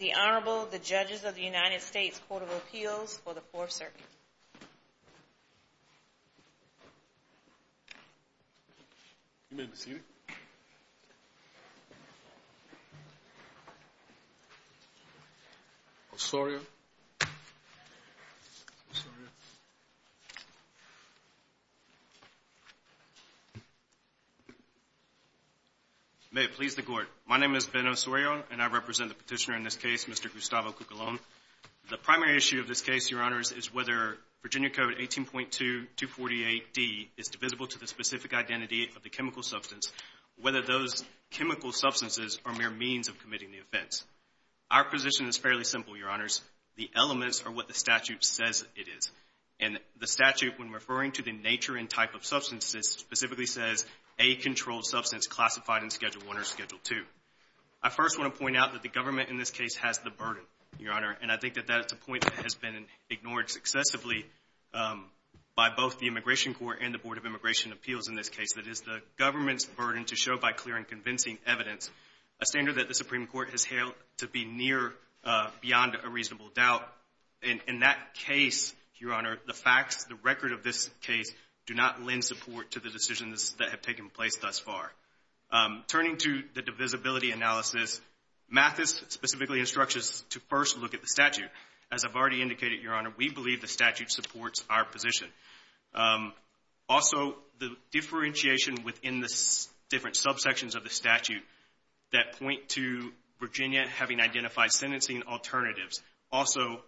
The Honorable, the Judges of the United States Court of Appeals for the Fourth Circuit. May it please the Court, my name is Ben Osorio and I represent the petitioner in this case, Mr. Gustavo Cucalon. The primary issue of this case, Your Honors, is whether Virginia Code 18.2248D is divisible to the specific identity of the chemical substance, whether those chemical substances are mere means of committing the offense. Our position is fairly simple, Your Honors. The elements are what the statute says it is. And the statute, when referring to the nature and type of substances, specifically says a controlled substance classified in Schedule I or Schedule II. I first want to point out that the government in this case has the burden, Your Honor, and I think that that is a point that has been ignored successively by both the Immigration Court and the Board of Immigration Appeals in this case. That is the government's burden to show by clear and convincing evidence a standard that the Supreme Court has hailed to be near beyond a reasonable doubt. In that case, Your Honor, the facts, the record of this case do not lend support to the decisions that have taken place thus far. Turning to the divisibility analysis, Mathis specifically instructs us to first look at the statute. As I've already indicated, Your Honor, we believe the statute supports our position. Also, the differentiation within the different subsections of the statute that point to Virginia having identified sentencing alternatives, also,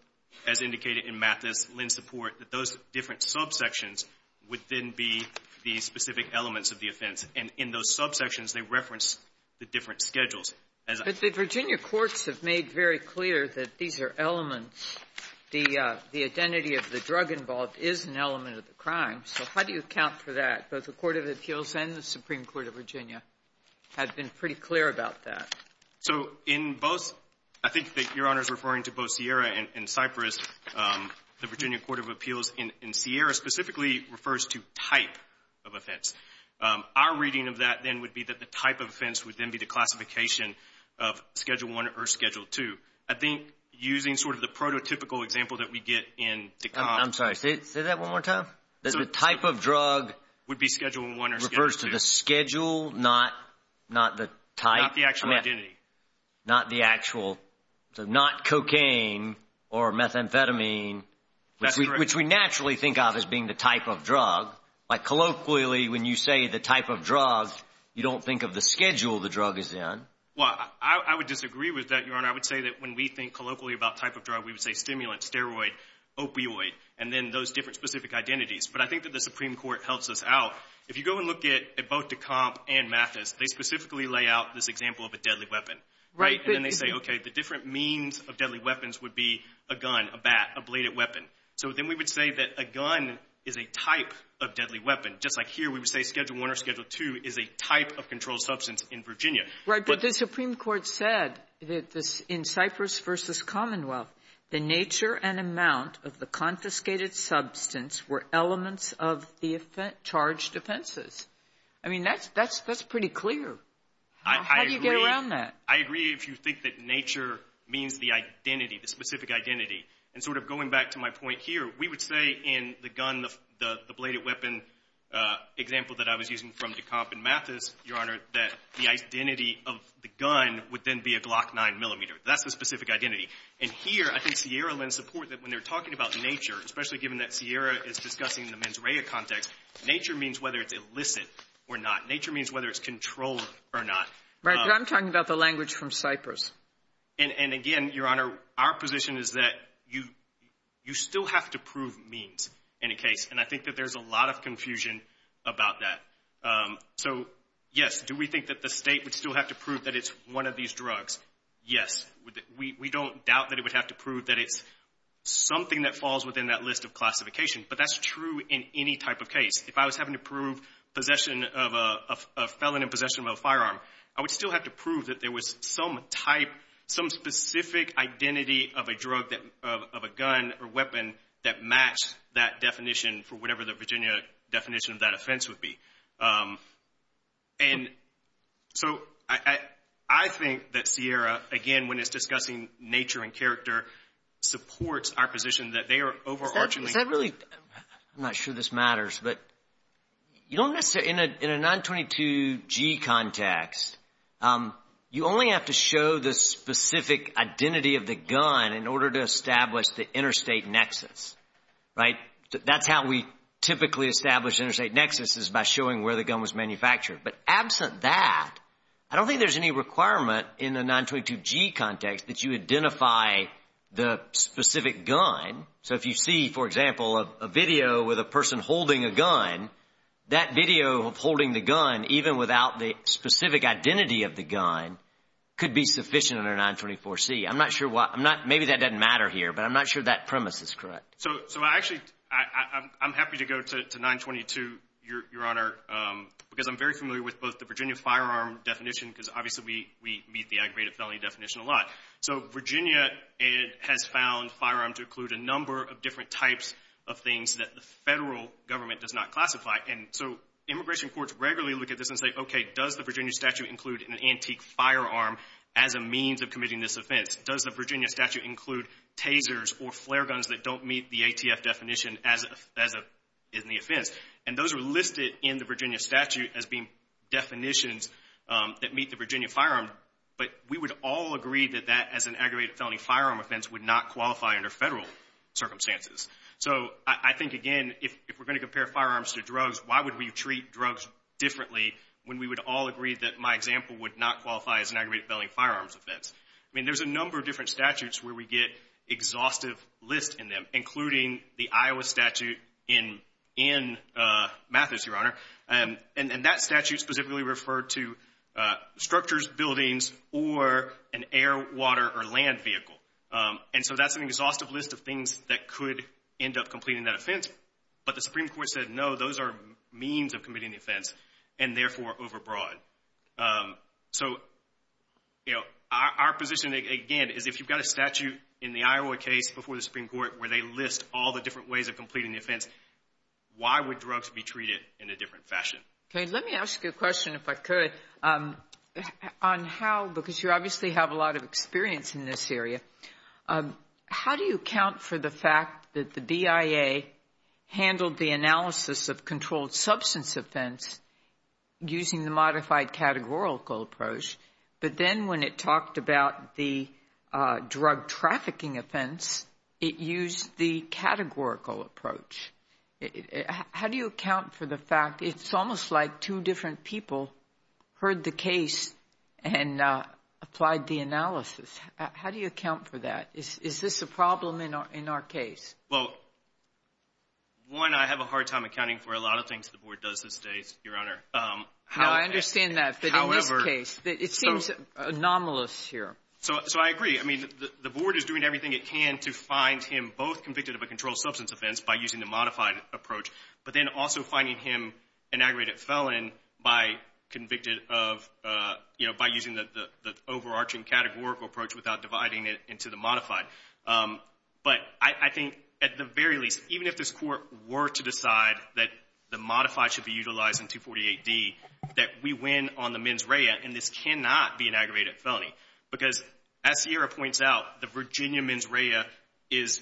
as indicated in Mathis, lend support that those different subsections would then be the specific elements of the offense. And in those subsections, they reference the different schedules. But the Virginia courts have made very clear that these are elements. The identity of the drug involved is an element of the crime. So how do you account for that? Both the Court of Appeals and the Supreme Court of Virginia have been pretty clear about that. So in both, I think that Your Honor is referring to both Sierra and Cyprus, the Virginia Court of Appeals in Sierra specifically refers to type of offense. Our reading of that then would be that the type of offense would then be the classification of Schedule I or Schedule II. I think using sort of the prototypical example that we get in DeConn. I'm sorry, say that one more time? That the type of drug would be Schedule I or Schedule II. Refers to the schedule, not the type. Not the actual identity. Not the actual, so not cocaine or methamphetamine, which we naturally think of as being the type of drug. But colloquially, when you say the type of drug, you don't think of the schedule the drug is in. Well, I would disagree with that, Your Honor. I would say that when we think colloquially about type of drug, we would say stimulant, steroid, opioid, and then those different specific identities. But I think that the Supreme Court helps us out. If you go and look at both DeConn and Mathis, they specifically lay out this example of a deadly weapon. Right. And then they say, OK, the different means of deadly weapons would be a gun, a bat, a bladed weapon. So then we would say that a gun is a type of deadly weapon. Just like here, we would say Schedule I or Schedule II is a type of controlled substance in Virginia. Right. But the Supreme Court said in Cypress v. Commonwealth, the nature and amount of the confiscated substance were elements of the charged offenses. I mean, that's pretty clear. How do you get around that? I agree if you think that nature means the identity, the specific identity. And sort of going back to my point here, we would say in the gun, the bladed weapon example that I was using from DeConn and Mathis, Your Honor, that the identity of the gun would then be a Glock 9 millimeter. That's the specific identity. And here, I think Sierra Lynn support that when they're talking about nature, especially given that Sierra is discussing the mens rea context, nature means whether it's illicit or not. Nature means whether it's controlled or not. Right. But I'm talking about the language from Cypress. And again, Your Honor, our position is that you still have to prove means in a case. And I think that there's a lot of confusion about that. So yes, do we think that the state would still have to prove that it's one of these drugs? Yes. We don't doubt that it would have to prove that it's something that falls within that list of classification. But that's true in any type of case. If I was having to prove possession of a felon in possession of a firearm, I would still have to prove that there was some type, some specific identity of a drug, of a gun or weapon that matched that definition for whatever the Virginia definition of that offense would be. And so, I think that Sierra, again, when it's discussing nature and character, supports I'm not sure this matters, but you don't necessarily, in a 922G context, you only have to show the specific identity of the gun in order to establish the interstate nexus, right? That's how we typically establish interstate nexus is by showing where the gun was manufactured. But absent that, I don't think there's any requirement in the 922G context that you identify the specific gun. So, if you see, for example, a video with a person holding a gun, that video of holding the gun, even without the specific identity of the gun, could be sufficient under 924C. I'm not sure why, I'm not, maybe that doesn't matter here, but I'm not sure that premise is correct. So, I actually, I'm happy to go to 922, Your Honor, because I'm very familiar with both the Virginia firearm definition, because obviously we meet the aggravated felony definition a lot. So, Virginia has found firearms to include a number of different types of things that the federal government does not classify. And so, immigration courts regularly look at this and say, okay, does the Virginia statute include an antique firearm as a means of committing this offense? Does the Virginia statute include tasers or flare guns that don't meet the ATF definition as an offense? And those are listed in the Virginia statute as being definitions that meet the Virginia firearm. But we would all agree that that, as an aggravated felony firearm offense, would not qualify under federal circumstances. So, I think, again, if we're going to compare firearms to drugs, why would we treat drugs differently when we would all agree that my example would not qualify as an aggravated felony firearms offense? I mean, there's a number of different statutes where we get exhaustive lists in them, including the Iowa statute in Mathis, Your Honor, and that statute specifically referred to structures buildings or an air, water, or land vehicle. And so, that's an exhaustive list of things that could end up completing that offense. But the Supreme Court said, no, those are means of committing the offense, and therefore overbroad. So, you know, our position, again, is if you've got a statute in the Iowa case before the Supreme Court where they list all the different ways of completing the offense, why would drugs be treated in a different fashion? Okay, let me ask you a question, if I could, on how, because you obviously have a lot of experience in this area, how do you account for the fact that the BIA handled the analysis of controlled substance offense using the modified categorical approach, but then when it talked about the drug trafficking offense, it used the categorical approach? How do you account for the fact, it's almost like two different people heard the case and applied the analysis. How do you account for that? Is this a problem in our case? Well, one, I have a hard time accounting for a lot of things the Board does these days, Your Honor. No, I understand that, but in this case, it seems anomalous here. So, I agree. I mean, the Board is doing everything it can to find him both convicted of a controlled substance offense by using the modified approach, but then also finding him an aggravated felon by using the overarching categorical approach without dividing it into the modified. But I think, at the very least, even if this Court were to decide that the modified should be utilized in 248D, that we win on the mens rea, and this cannot be an aggravated felony. Because, as Sierra points out, the Virginia mens rea is,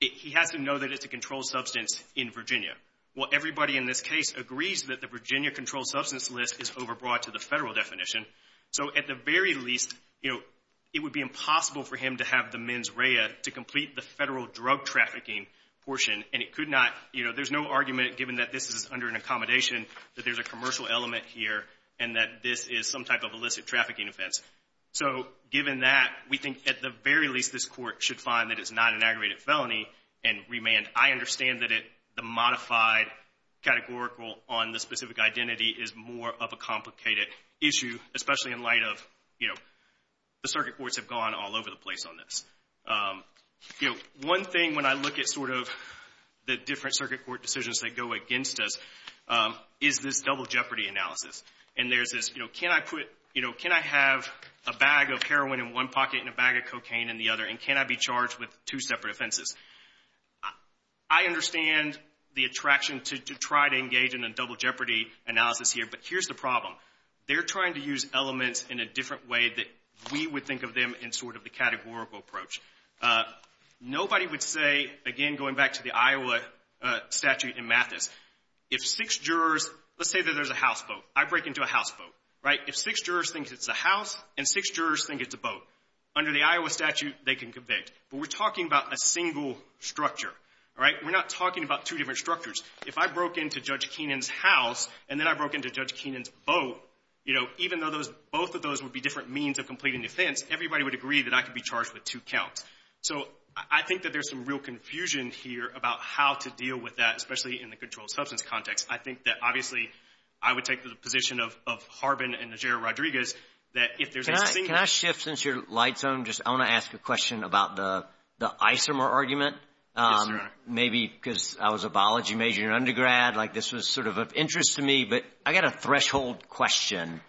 he has to know that it's a controlled substance in Virginia. Well, everybody in this case agrees that the Virginia controlled substance list is overbroad to the Federal definition, so at the very least, you know, it would be impossible for him to have the mens rea to complete the Federal drug trafficking portion, and it could not, you know, there's no argument given that this is under an accommodation, that there's a commercial element here, and that this is some type of illicit trafficking offense. So, given that, we think, at the very least, this Court should find that it's not an aggravated felony and remand. I understand that the modified categorical on the specific identity is more of a complicated issue, especially in light of, you know, the circuit courts have gone all over the place on this. You know, one thing when I look at sort of the different circuit court decisions that go against us is this double jeopardy analysis. And there's this, you know, can I put, you know, can I have a bag of heroin in one pocket and a bag of cocaine in the other, and can I be charged with two separate offenses? I understand the attraction to try to engage in a double jeopardy analysis here, but here's the problem. They're trying to use elements in a different way that we would think of them in sort of the categorical approach. Nobody would say, again, going back to the Iowa statute in Mathis, if six jurors, let's say that there's a houseboat. I break into a houseboat, right? If six jurors think it's a house and six jurors think it's a boat, under the Iowa statute, they can convict. But we're talking about a single structure, all right? We're not talking about two different structures. If I broke into Judge Keenan's house and then I broke into Judge Keenan's boat, you know, even though those, both of those would be different means of completing defense, everybody would agree that I could be charged with two counts. So I think that there's some real confusion here about how to deal with that, especially in the controlled substance context. I think that obviously I would take the position of Harbin and Najera Rodriguez that if there's a single... Can I shift since your light's on? Just, I want to ask a question about the isomer argument. Yes, sir. Maybe because I was a biology major in undergrad, like this was sort of of interest to me, but I got a threshold question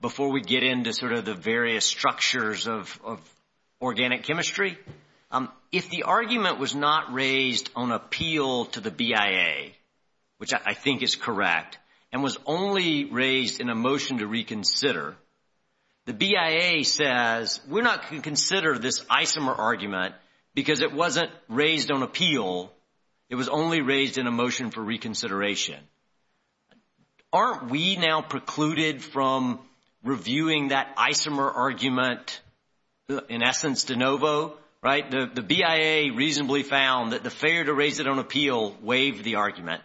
before we get into sort of the various structures of organic chemistry. If the argument was not raised on appeal to the BIA, which I think is correct, and was only raised in a motion to reconsider, the BIA says, we're not going to consider this isomer argument because it wasn't raised on appeal. It was only raised in a motion for reconsideration. Aren't we now precluded from reviewing that isomer argument in essence de novo, right? The BIA reasonably found that the failure to raise it on appeal waived the argument,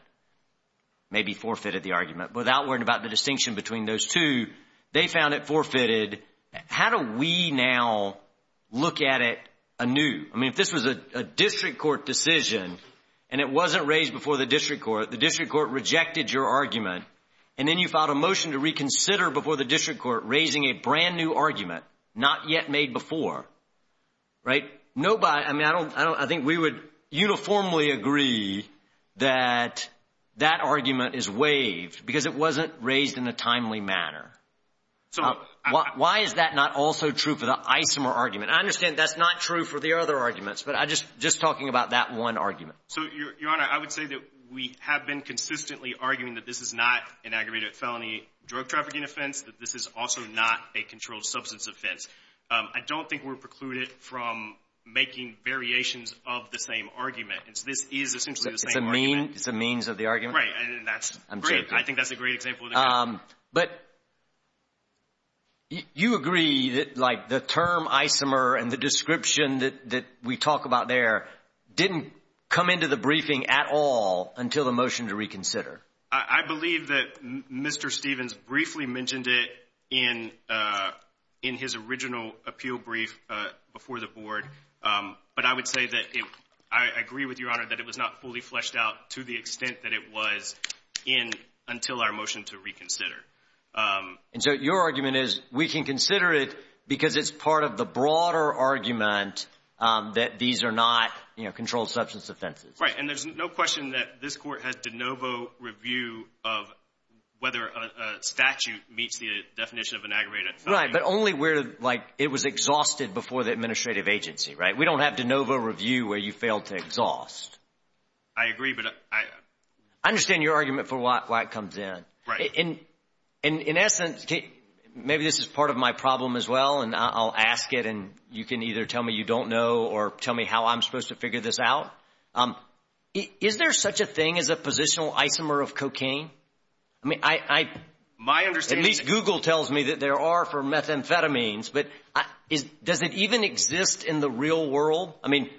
maybe forfeited the argument. Without worrying about the distinction between those two, they found it forfeited. How do we now look at it anew? I mean, if this was a district court decision and it wasn't raised before the district court, the district court rejected your argument, and then you filed a motion to reconsider before the district court, raising a brand new argument, not yet made before, right? I mean, I think we would uniformly agree that that argument is waived because it wasn't raised in a timely manner. Why is that not also true for the isomer argument? I understand that's not true for the other arguments, but just talking about that one argument. Your Honor, I would say that we have been consistently arguing that this is not an aggravated felony drug trafficking offense, that this is also not a controlled substance offense. I don't think we're precluded from making variations of the same argument. This is essentially the same argument. It's a means of the argument? Right. And that's great. I'm joking. I think that's a great example of the argument. But you agree that the term isomer and the description that we talk about there didn't come into the briefing at all until the motion to reconsider? I believe that Mr. Stevens briefly mentioned it in his original appeal brief before the board, but I would say that I agree with Your Honor that it was not fully fleshed out to the extent that it was until our motion to reconsider. And so your argument is we can consider it because it's part of the broader argument that these are not controlled substance offenses? Right. And there's no question that this Court has de novo review of whether a statute meets the definition of an aggravated felony. Right. But only where it was exhausted before the administrative agency, right? We don't have de novo review where you failed to exhaust. I agree. But I... I understand your argument for why it comes in. Right. And in essence, maybe this is part of my problem as well, and I'll ask it and you can either tell me you don't know or tell me how I'm supposed to figure this out. Is there such a thing as a positional isomer of cocaine? I mean, I... My understanding... At least Google tells me that there are for methamphetamines. But does it even exist in the real world? I mean,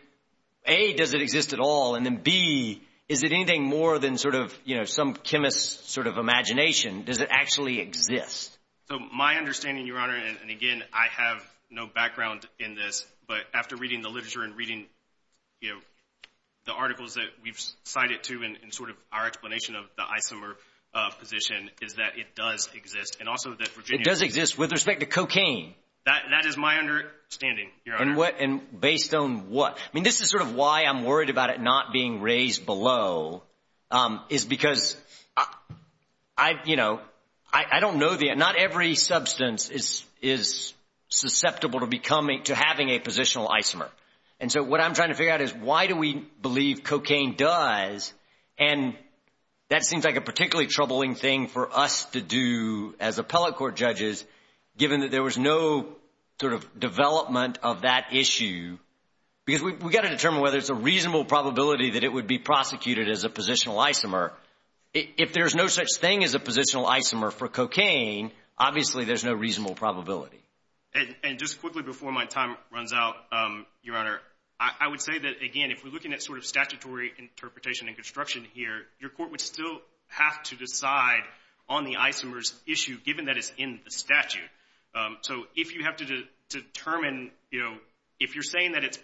A, does it exist at all? And then B, is it anything more than sort of, you know, some chemist's sort of imagination? Does it actually exist? So my understanding, Your Honor, and again, I have no background in this, but after reading the literature and reading, you know, the articles that we've cited to and sort of our explanation of the isomer position is that it does exist. And also that Virginia... That is my understanding, Your Honor. And what... And based on what? I mean, this is sort of why I'm worried about it not being raised below, is because I, you know, I don't know the... Not every substance is susceptible to becoming... To having a positional isomer. And so what I'm trying to figure out is why do we believe cocaine does, and that seems like a particularly troubling thing for us to do as appellate court judges, given that there was no sort of development of that issue, because we've got to determine whether it's a reasonable probability that it would be prosecuted as a positional isomer. If there's no such thing as a positional isomer for cocaine, obviously there's no reasonable probability. And just quickly before my time runs out, Your Honor, I would say that, again, if we're looking at sort of statutory interpretation and construction here, your court would still have to decide on the isomers issue, given that it's in the statute. So if you have to determine, you know, if you're saying that it's...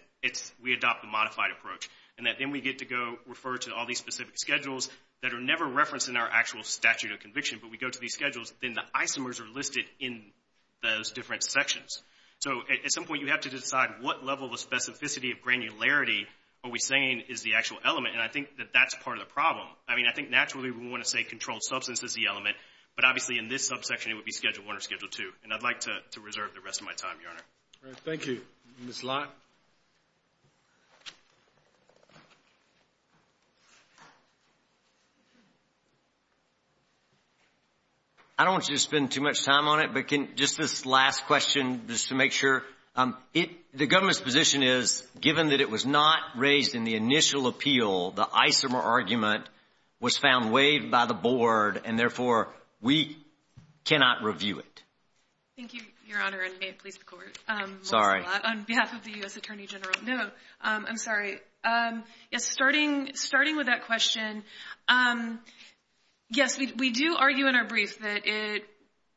We adopt a modified approach, and that then we get to go refer to all these specific schedules that are never referenced in our actual statute of conviction, but we go to these schedules, then the isomers are listed in those different sections. So at some point you have to decide what level of specificity of granularity are we saying is the actual element, and I think that that's part of the problem. I mean, I think naturally we want to say controlled substance is the element, but obviously in this subsection it would be Schedule I or Schedule II. And I'd like to reserve the rest of my time, Your Honor. All right. Thank you. Ms. Lott? I don't want you to spend too much time on it, but just this last question just to make sure. The government's position is, given that it was not raised in the initial appeal, the isomer argument was found waived by the Board, and therefore we cannot review it. Thank you, Your Honor, and may it please the Court. Sorry. On behalf of the U.S. Attorney General. No, I'm sorry. Yes, starting with that question, yes, we do argue in our brief that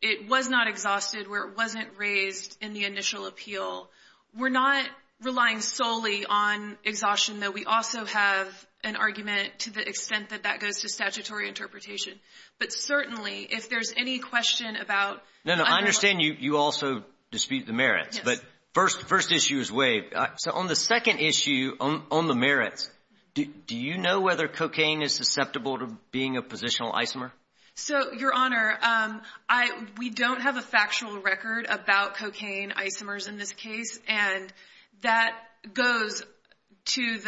it was not exhausted where it wasn't raised in the initial appeal. We're not relying solely on exhaustion, though. We also have an argument to the extent that that goes to statutory interpretation. But certainly, if there's any question about... No, no, I understand you also dispute the merits, but first issue is waived. So on the second issue, on the merits, do you know whether cocaine is susceptible to being a positional isomer? So, Your Honor, we don't have a factual record about cocaine isomers in this case, and that goes to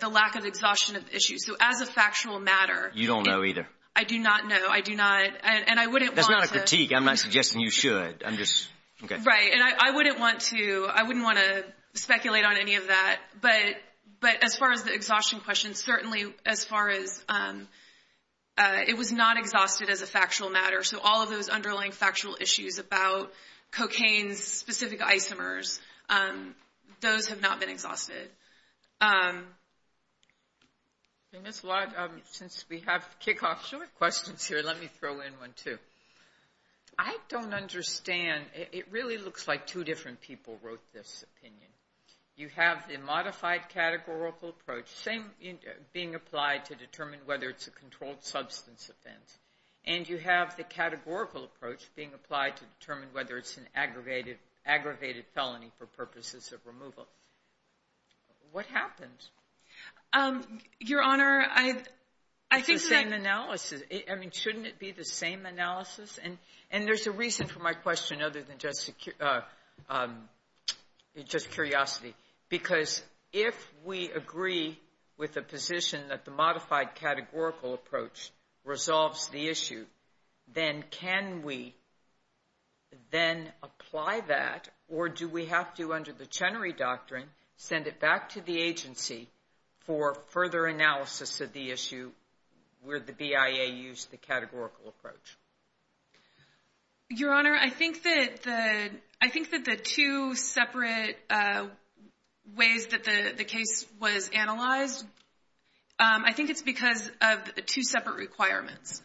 the lack of exhaustion of the issue. So as a factual matter... You don't know either. I do not know. I do not... That's not a critique. I'm not suggesting you should. I'm just... Right, and I wouldn't want to speculate on any of that, but as far as the exhaustion question, certainly as far as... It was not exhausted as a factual matter, so all of those underlying factual issues about cocaine's specific isomers, those have not been exhausted. Ms. Lott, since we have kickoff short questions here, let me throw in one, too. I don't understand. It really looks like two different people wrote this opinion. You have the modified categorical approach, same being applied to determine whether it's a controlled substance offense, and you have the categorical approach being applied to determine whether it's an aggravated felony for purposes of removal. What happens? Your Honor, I think that... It's the same analysis. I mean, shouldn't it be the same analysis? There's a reason for my question, other than just curiosity, because if we agree with the position that the modified categorical approach resolves the issue, then can we then apply that, or do we have to, under the Chenery Doctrine, send it back to the agency for further analysis of the issue, where the BIA used the categorical approach? Your Honor, I think that the two separate ways that the case was analyzed, I think it's because of two separate requirements.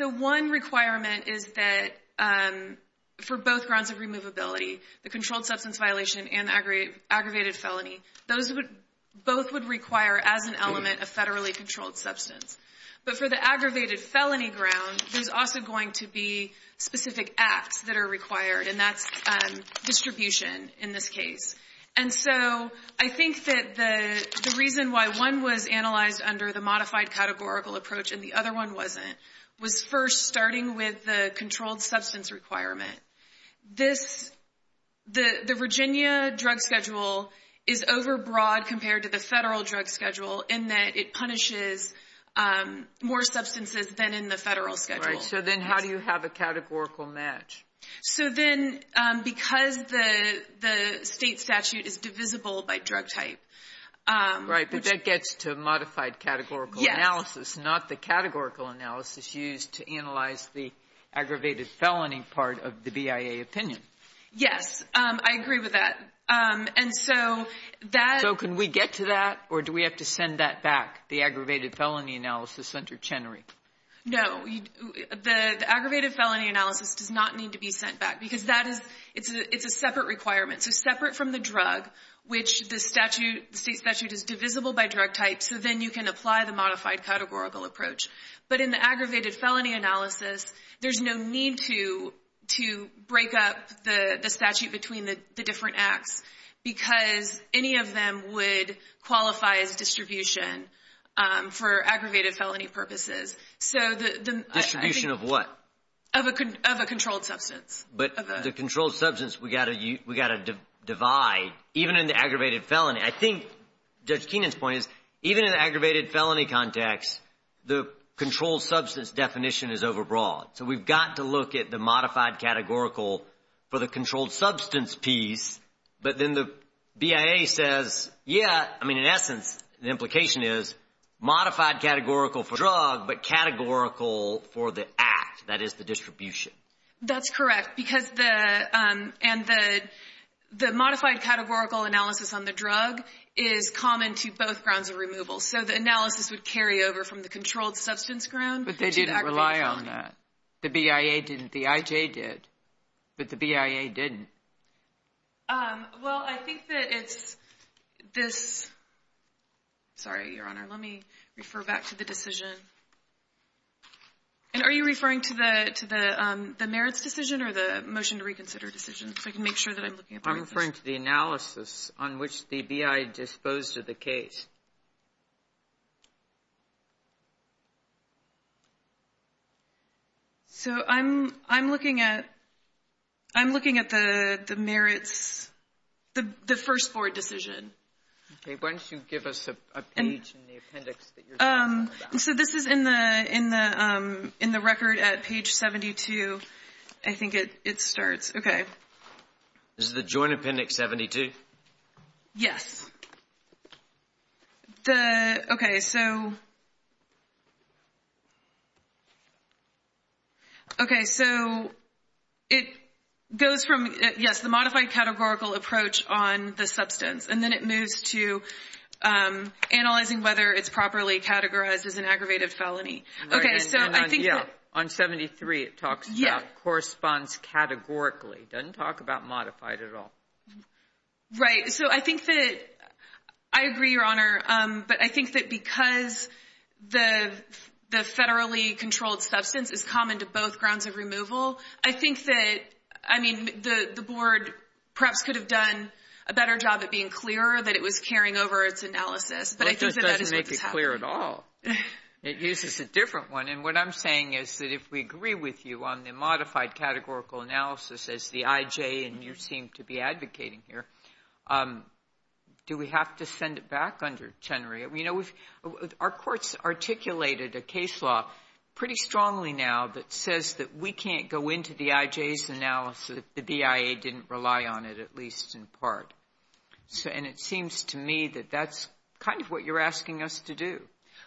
One requirement is that, for both grounds of removability, the controlled substance violation and aggravated felony, both would require, as an element, a federally controlled substance. But for the aggravated felony ground, there's also going to be specific acts that are required, and that's distribution, in this case. And so, I think that the reason why one was analyzed under the modified categorical approach and the other one wasn't, was first, starting with the controlled substance requirement. This, the Virginia drug schedule is overbroad compared to the federal drug schedule in that it punishes more substances than in the federal schedule. Right. So then, how do you have a categorical match? So then, because the state statute is divisible by drug type. Right. But that gets to modified categorical analysis, not the categorical analysis used to analyze the aggravated felony part of the BIA opinion. Yes, I agree with that. And so, that... So, can we get to that, or do we have to send that back, the aggravated felony analysis under Chenery? No. The aggravated felony analysis does not need to be sent back, because that is, it's a separate requirement. So, separate from the drug, which the statute, the state statute is divisible by drug type, so then you can apply the modified categorical approach. But in the aggravated felony analysis, there's no need to break up the statute between the different acts, because any of them would qualify as distribution for aggravated felony purposes. So, the... Distribution of what? Of a controlled substance. But the controlled substance, we've got to divide, even in the aggravated felony. I think Judge Keenan's point is, even in aggravated felony context, the controlled substance definition is overbroad. So, we've got to look at the modified categorical for the controlled substance piece, but then the BIA says, yeah, I mean, in essence, the implication is modified categorical for drug, but categorical for the act, that is, the distribution. That's correct, because the, and the modified categorical analysis on the drug is common to both grounds of removal, so the analysis would carry over from the controlled substance ground to the aggravated felony. But they didn't rely on that. The BIA didn't, the IJ did, but the BIA didn't. Well, I think that it's this, sorry, Your Honor, let me refer back to the decision. And are you referring to the merits decision or the motion to reconsider decision, so I can make sure that I'm looking at the right decision? I'm referring to the analysis on which the BIA disposed of the case. So I'm looking at, I'm looking at the merits, the first board decision. Okay, why don't you give us a page in the appendix that you're talking about. So this is in the record at page 72. I think it starts, okay. Is it the joint appendix 72? Yes. The, okay, so, okay, so it goes from, yes, the modified categorical approach on the substance, and then it moves to analyzing whether it's properly categorized as an aggravated felony. Okay, so I think that, yeah, on 73, it talks about corresponds categorically, doesn't talk about modified at all. Right. So I think that, I agree, Your Honor, but I think that because the federally controlled substance is common to both grounds of removal, I think that, I mean, the board perhaps could have done a better job at being clearer that it was carrying over its analysis, but I think that that is what's happening. Well, it doesn't make it clear at all. It uses a different one, and what I'm saying is that if we agree with you on the modified categorical analysis as the IJ, and you seem to be advocating here, do we have to send it back under Chenery? I mean, you know, we've, our courts articulated a case law pretty strongly now that says that we can't go into the IJ's analysis if the BIA didn't rely on it, at least in part, and it seems to me that that's kind of what you're asking us to do,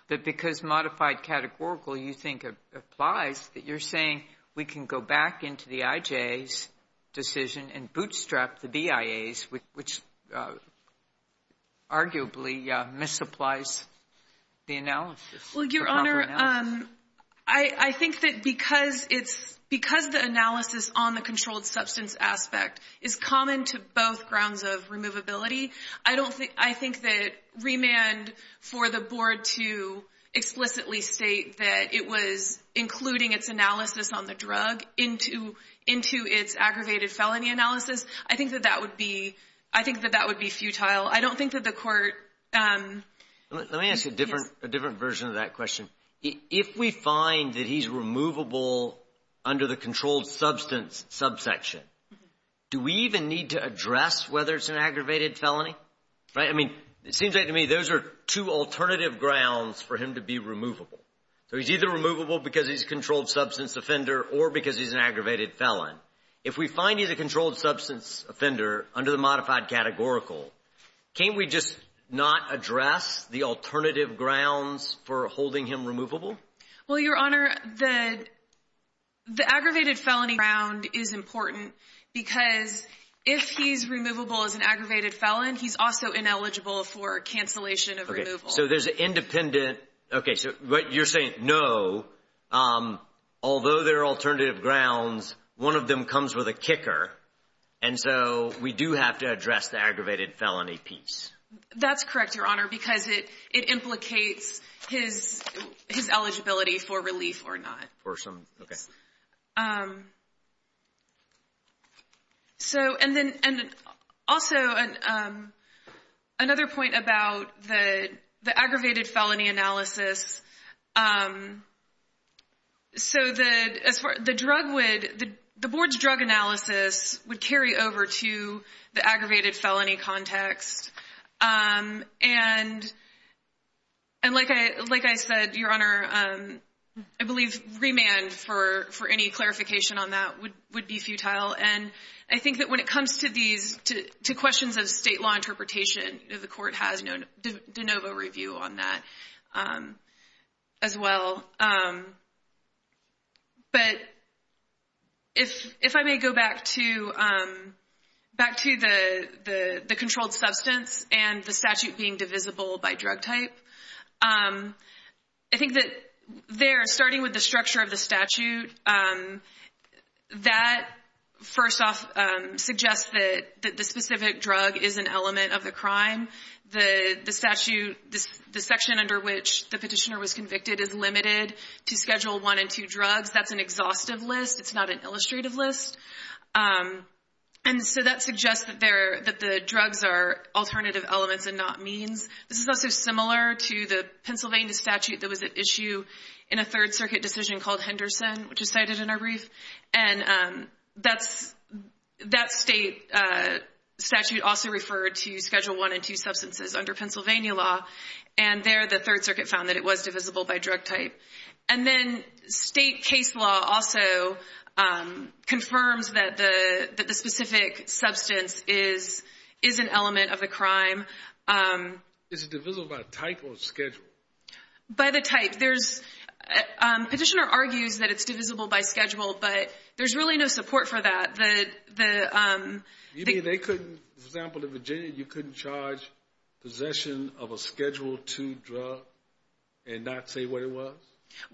that because modified categorical you think applies, that you're saying we can go back into the IJ's decision and bootstrap the BIA's, which arguably misapplies the analysis. Well, Your Honor, I think that because the analysis on the controlled substance aspect is common to both grounds of removability, I don't think, I think that remand for the board to explicitly state that it was including its analysis on the drug into its aggravated felony analysis, I think that that would be, I think that that would be futile. I don't think that the court... Let me ask you a different version of that question. If we find that he's removable under the controlled substance subsection, do we even need to address whether it's an aggravated felony? Right? I mean, it seems like to me those are two alternative grounds for him to be removable. So he's either removable because he's a controlled substance offender or because he's an aggravated felon. If we find he's a controlled substance offender under the modified categorical, can't we just not address the alternative grounds for holding him removable? Well, Your Honor, the aggravated felony round is important because if he's removable as an aggravated felon, he's also ineligible for cancellation of removal. So there's an independent... Okay. So what you're saying, no, although there are alternative grounds, one of them comes with a kicker. And so we do have to address the aggravated felony piece. That's correct, Your Honor, because it implicates his eligibility for relief or not. For some... Okay. So, and then also another point about the aggravated felony analysis, so the board's over to the aggravated felony context. And like I said, Your Honor, I believe remand for any clarification on that would be futile. And I think that when it comes to these, to questions of state law interpretation, the court has no de novo review on that as well. But if I may go back to the controlled substance and the statute being divisible by drug type, I think that there, starting with the structure of the statute, that first off suggests that the specific drug is an element of the crime. The statute, the section under which the petitioner was convicted is limited to Schedule I and II drugs. That's an exhaustive list. It's not an illustrative list. And so that suggests that the drugs are alternative elements and not means. This is also similar to the Pennsylvania statute that was at issue in a Third Circuit decision called Henderson, which is cited in our brief. And that state statute also referred to Schedule I and II substances under Pennsylvania law. And there, the Third Circuit found that it was divisible by drug type. And then state case law also confirms that the specific substance is an element of the crime. Is it divisible by type or schedule? By the type. By the type. The petitioner argues that it's divisible by schedule, but there's really no support for that. You mean they couldn't, for example, in Virginia, you couldn't charge possession of a Schedule II drug and not say what it was?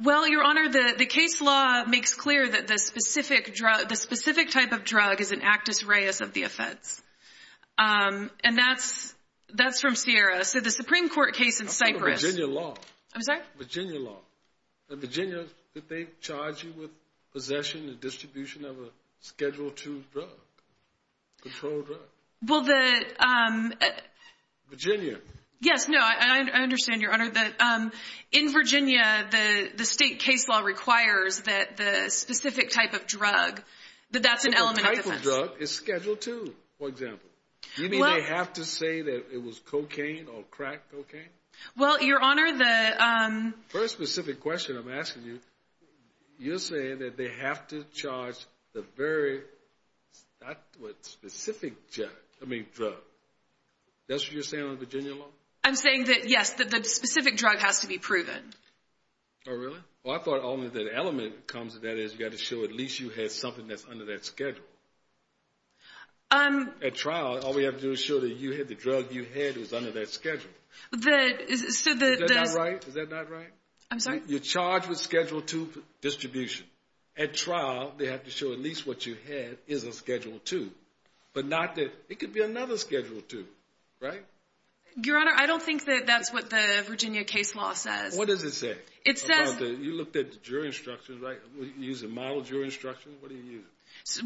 Well, Your Honor, the case law makes clear that the specific type of drug is an actus reis of the offense. And that's from Sierra. So the Supreme Court case in Cyprus. I'm talking Virginia law. I'm sorry? Virginia law. In Virginia, did they charge you with possession and distribution of a Schedule II drug, controlled drug? Well, the... Virginia. Yes. No, I understand, Your Honor, that in Virginia, the state case law requires that the specific type of drug, that that's an element of the offense. But the type of drug is Schedule II, for example. Do you mean they have to say that it was cocaine or crack cocaine? Well, Your Honor, the... Very specific question I'm asking you. You're saying that they have to charge the very, not what, specific drug. That's what you're saying on Virginia law? I'm saying that, yes, that the specific drug has to be proven. Oh, really? Well, I thought only that element comes, and that is you got to show at least you had something that's under that schedule. At trial, all we have to do is show that you had the drug you had was under that schedule. The... Is that not right? Is that not right? I'm sorry? You're charged with Schedule II distribution. At trial, they have to show at least what you had is a Schedule II, but not that... It could be another Schedule II, right? Your Honor, I don't think that that's what the Virginia case law says. What does it say? It says... About the... You looked at the jury instructions, right? You use a model jury instruction? What do you use?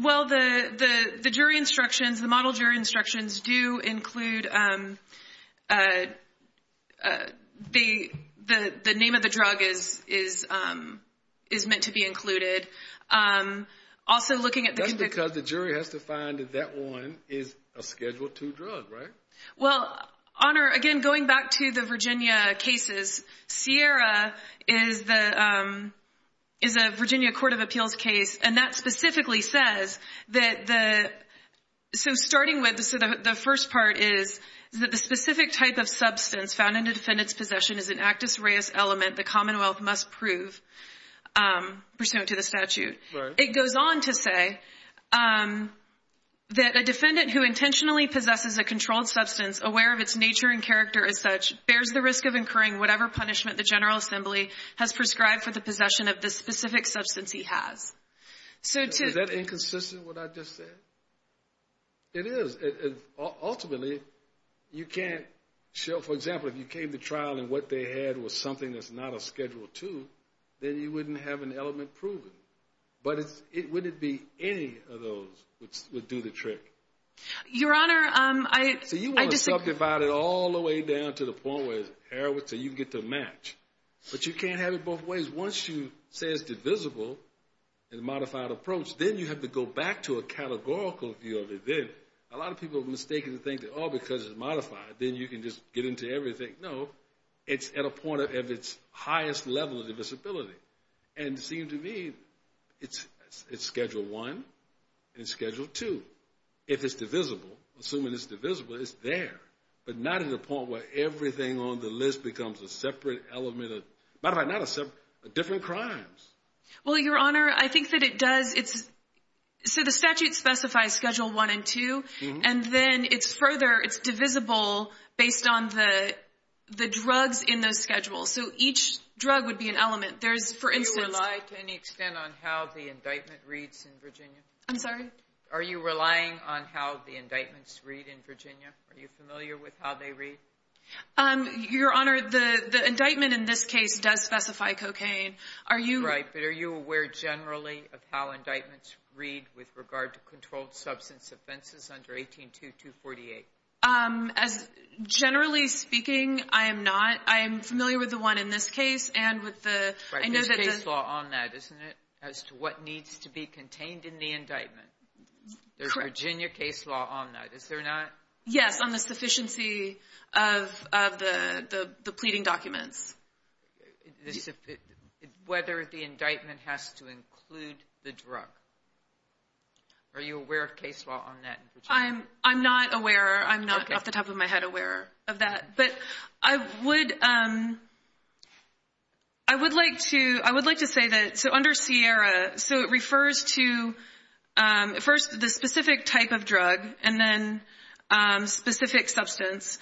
Well, the jury instructions, the model jury instructions do include the name of the drug is meant to be included. Also, looking at the... That's because the jury has to find that that one is a Schedule II drug, right? Well, Honor, again, going back to the Virginia cases, Sierra is a Virginia Court of Appeals case, and that specifically says that the... So, starting with the first part is that the specific type of substance found in a defendant's possession is an actus reus element the Commonwealth must prove pursuant to the statute. It goes on to say that a defendant who intentionally possesses a controlled substance aware of its nature and character as such bears the risk of incurring whatever punishment the Is that inconsistent with what I just said? It is. Ultimately, you can't show... For example, if you came to trial and what they had was something that's not a Schedule II, then you wouldn't have an element proven. But would it be any of those would do the trick? Your Honor, I just... So, you want to subdivide it all the way down to the point where it's air, so you get the match. But you can't have it both ways. Once you say it's divisible in a modified approach, then you have to go back to a categorical view of it. Then, a lot of people mistakenly think that, oh, because it's modified, then you can just get into everything. No. It's at a point of its highest level of divisibility. And, it seems to me, it's Schedule I and Schedule II. If it's divisible, assuming it's divisible, it's there, but not at a point where everything on the list becomes a separate element of... Matter of fact, not a separate... Different crimes. Well, Your Honor, I think that it does. So, the statute specifies Schedule I and II, and then it's further, it's divisible based on the drugs in those schedules. So, each drug would be an element. There's, for instance... Do you rely to any extent on how the indictment reads in Virginia? I'm sorry? Are you relying on how the indictments read in Virginia? Are you familiar with how they read? Your Honor, the indictment in this case does specify cocaine. Are you... Right, but are you aware generally of how indictments read with regard to controlled substance offenses under 18.2.248? As, generally speaking, I am not. I am familiar with the one in this case, and with the... But there's case law on that, isn't it? As to what needs to be contained in the indictment. Correct. There's Virginia case law on that, is there not? Yes, on the sufficiency of the pleading documents. Whether the indictment has to include the drug. Are you aware of case law on that in Virginia? I'm not aware. I'm not, off the top of my head, aware of that. But I would... I would like to... I would like to say that... So it refers to... First, the specific type of drug, and then specific substance.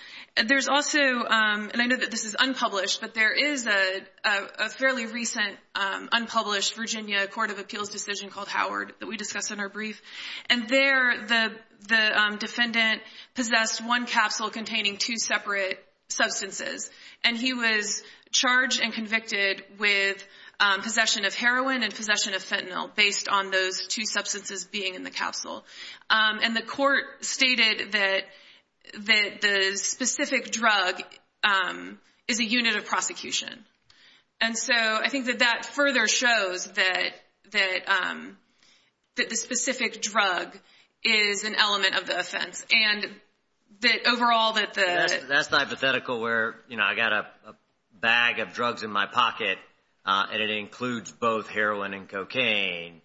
There's also... And I know that this is unpublished, but there is a fairly recent unpublished Virginia Court of Appeals decision called Howard that we discussed in our brief. And there, the defendant possessed one capsule containing two separate substances. And he was charged and convicted with possession of heroin and possession of fentanyl, based on those two substances being in the capsule. And the court stated that the specific drug is a unit of prosecution. And so, I think that that further shows that the specific drug is an element of the offense. And that overall, that the... I got a bag of drugs in my pocket, and it includes both heroin and cocaine.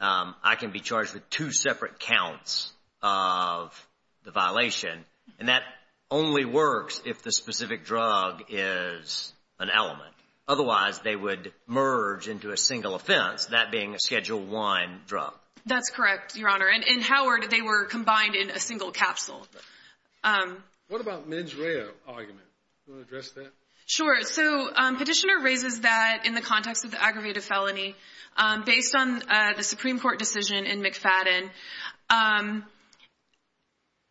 I can be charged with two separate counts of the violation. And that only works if the specific drug is an element. Otherwise, they would merge into a single offense, that being a Schedule I drug. That's correct, Your Honor. And in Howard, they were combined in a single capsule. What about Meds Reo argument? Do you want to address that? Sure. So, Petitioner raises that in the context of the aggravated felony, based on the Supreme Court decision in McFadden.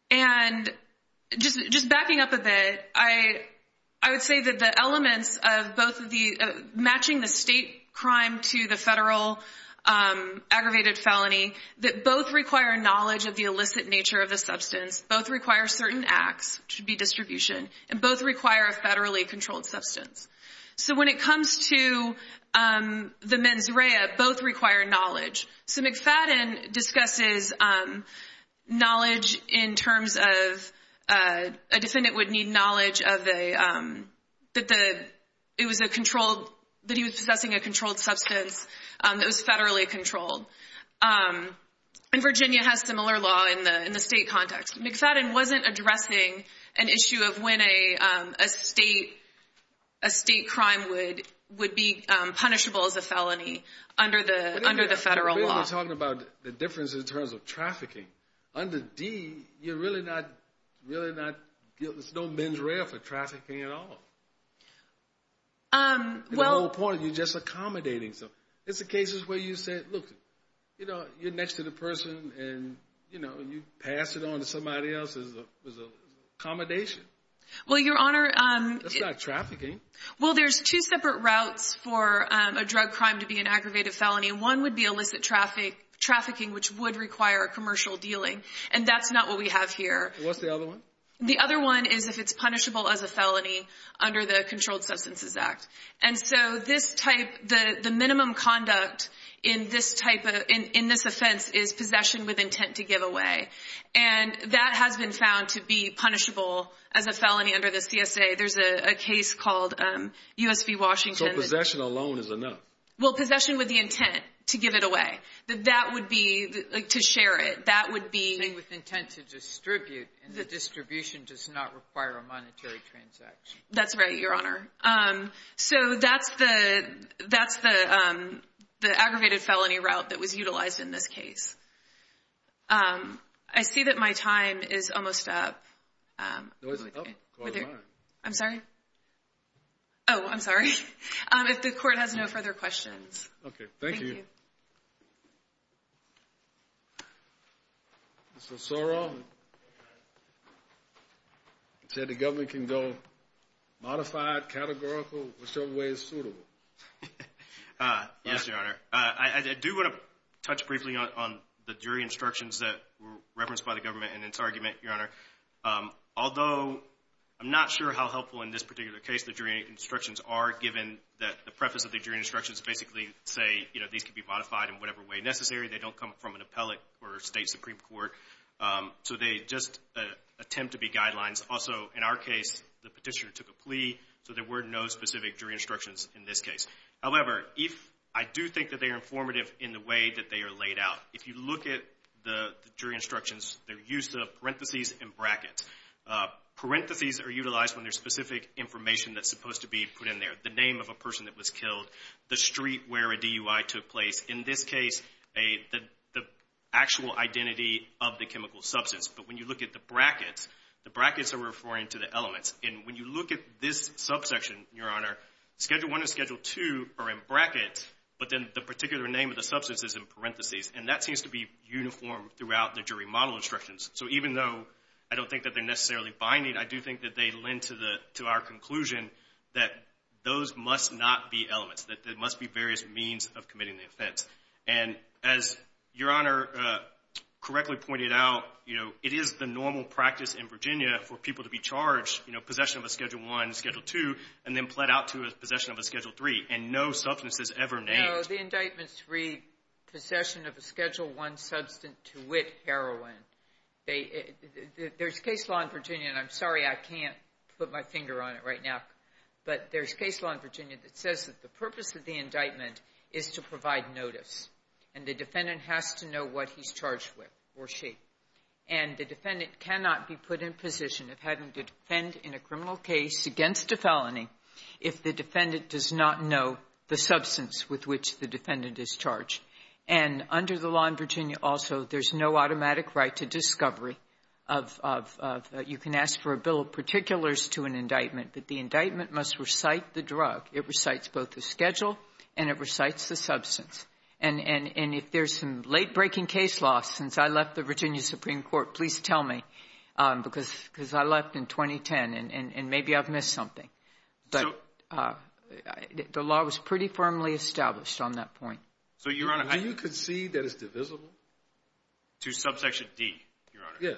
And just backing up a bit, I would say that the elements of matching the state crime to the federal aggravated felony, that both require knowledge of the illicit nature of the substance. Both require certain acts, which would be distribution. And both require a federally controlled substance. So, when it comes to the Meds Reo, both require knowledge. So, McFadden discusses knowledge in terms of... A defendant would need knowledge that he was possessing a controlled substance, that was federally controlled. And Virginia has similar law in the state context. McFadden wasn't addressing an issue of when a state crime would be punishable as a felony under the federal law. We're talking about the difference in terms of trafficking. Under D, you're really not... There's no Meds Reo for trafficking at all. At no point, you're just accommodating. It's the cases where you said, look, you're next to the person, and you pass it on to somebody else as an accommodation. Well, Your Honor... That's not trafficking. Well, there's two separate routes for a drug crime to be an aggravated felony. One would be illicit trafficking, which would require a commercial dealing. And that's not what we have here. What's the other one? The other one is if it's punishable as a felony under the Controlled Substances Act. And so this type... The minimum conduct in this offense is possession with intent to give away. And that has been found to be punishable as a felony under the CSA. There's a case called U.S. v. Washington... So possession alone is enough? Well, possession with the intent to give it away. That would be... To share it. That would be... The thing with intent to distribute. And the distribution does not require a monetary transaction. That's right, Your Honor. So that's the aggravated felony route that was utilized in this case. I see that my time is almost up. No, it's up. Call the line. I'm sorry? Oh, I'm sorry. If the Court has no further questions. Okay, thank you. Thank you. Mr. Sorrell. You said the government can go modified, categorical, whichever way is suitable. Yes, Your Honor. I do want to touch briefly on the jury instructions that were referenced by the government in its argument, Your Honor. Although I'm not sure how helpful in this particular case the jury instructions are given that the preface of the jury instructions basically say, you know, these can be modified in whatever way necessary. They don't come from an appellate or a state Supreme Court. So they just attempt to be guidelines. Also, in our case, the petitioner took a plea. So there were no specific jury instructions in this case. However, if... I do think that they are informative in the way that they are laid out. If you look at the jury instructions, they're used in parentheses and brackets. Parentheses are utilized when there's specific information that's supposed to be put in there. The name of a person that was killed, the street where a DUI took place. In this case, the actual identity of the chemical substance. But when you look at the brackets, the brackets are referring to the elements. And when you look at this subsection, Your Honor, Schedule I and Schedule II are in brackets, but then the particular name of the substance is in parentheses. And that seems to be uniform throughout the jury model instructions. So even though I don't think that they're necessarily binding, I do think that they those must not be elements. There must be various means of committing the offense. And as Your Honor correctly pointed out, it is the normal practice in Virginia for people to be charged, possession of a Schedule I, Schedule II, and then pled out to possession of a Schedule III. And no substance is ever named. No, the indictments read, possession of a Schedule I substance to wit heroin. There's case law in Virginia, and I'm sorry I can't put my finger on it right now, but there's case law in Virginia that says that the purpose of the indictment is to provide notice. And the defendant has to know what he's charged with or she. And the defendant cannot be put in position of having to defend in a criminal case against a felony if the defendant does not know the substance with which the defendant is charged. And under the law in Virginia also, there's no automatic right to discovery of you can ask for a bill of particulars to an indictment, that the indictment must recite the drug. It recites both the schedule and it recites the substance. And if there's some late-breaking case law since I left the Virginia Supreme Court, please tell me, because I left in 2010, and maybe I've missed something. But the law was pretty firmly established on that point. So, Your Honor, I... Do you concede that it's divisible? To subsection D, Your Honor? Yes.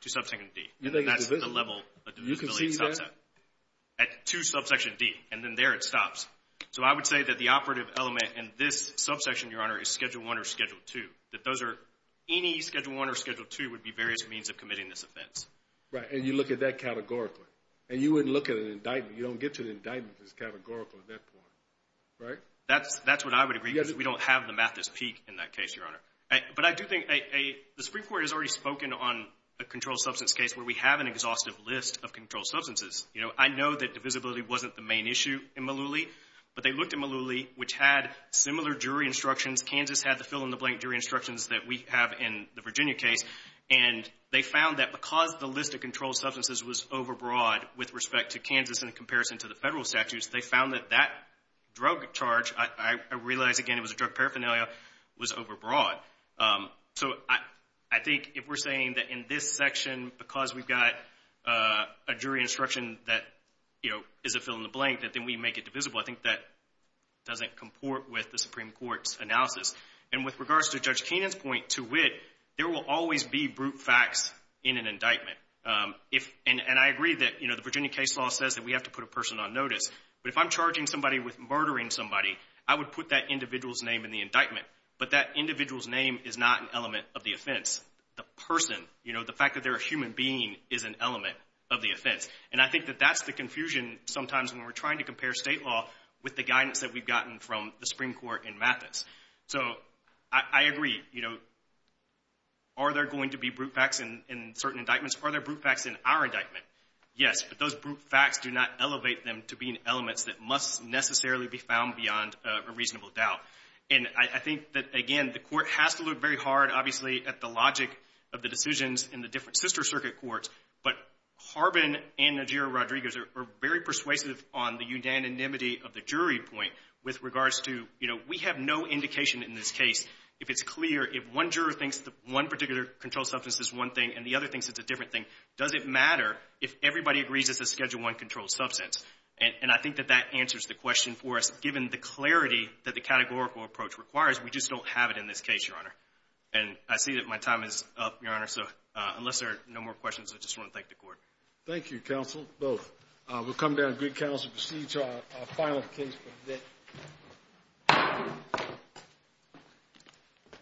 To subsection D. You think it's divisible? Do you concede that? To subsection D. And then there it stops. So I would say that the operative element in this subsection, Your Honor, is Schedule I or Schedule II. That those are... Any Schedule I or Schedule II would be various means of committing this offense. Right. And you look at that categorically. And you wouldn't look at an indictment. You don't get to an indictment that's categorical at that point. Right? That's what I would agree, because we don't have the math at its peak in that case, Your Honor. But I do think... The Supreme Court has already spoken on a controlled substance case where we have an exhaustive list of controlled substances. You know, I know that divisibility wasn't the main issue in Malooly. But they looked at Malooly, which had similar jury instructions. Kansas had the fill-in-the-blank jury instructions that we have in the Virginia case. And they found that because the list of controlled substances was overbroad with respect to Kansas in comparison to the federal statutes, they found that that drug charge... I realize, again, it was a drug paraphernalia... Was overbroad. So I think if we're saying that in this section, because we've got a jury instruction that, you know, is a fill-in-the-blank, that then we make it divisible, I think that doesn't comport with the Supreme Court's analysis. And with regards to Judge Kenan's point, to wit, there will always be brute facts in an indictment. And I agree that the Virginia case law says that we have to put a person on notice. But if I'm charging somebody with murdering somebody, I would put that individual's name in the indictment. But that individual's name is not an element of the offense. The person, you know, the fact that they're a human being, is an element of the offense. And I think that that's the confusion sometimes when we're trying to compare state law with the guidance that we've gotten from the Supreme Court in Mathis. So, I agree. You know, are there going to be brute facts in certain indictments? Are there brute facts in our indictment? Yes, but those brute facts do not elevate them to being elements that must necessarily be found beyond a reasonable doubt. And I think that, again, the Court has to look very hard, obviously, at the logic of the decisions in the different sister circuit courts. But Harbin and Najira-Rodriguez are very persuasive on the unanimity of the jury point with regards to, you know, we have no indication in this case if it's clear, if one juror thinks that one particular controlled substance is one thing and the other thinks it's a different thing, does it matter if everybody agrees it's a Schedule I controlled substance? And I think that that answers the question for us, that given the clarity that the categorical approach requires, we just don't have it in this case, Your Honor. And I see that my time is up, Your Honor, so unless there are no more questions, I just want to thank the Court. Thank you, counsel, both. We'll come down to Greek Counsel to proceed to our final case for the day.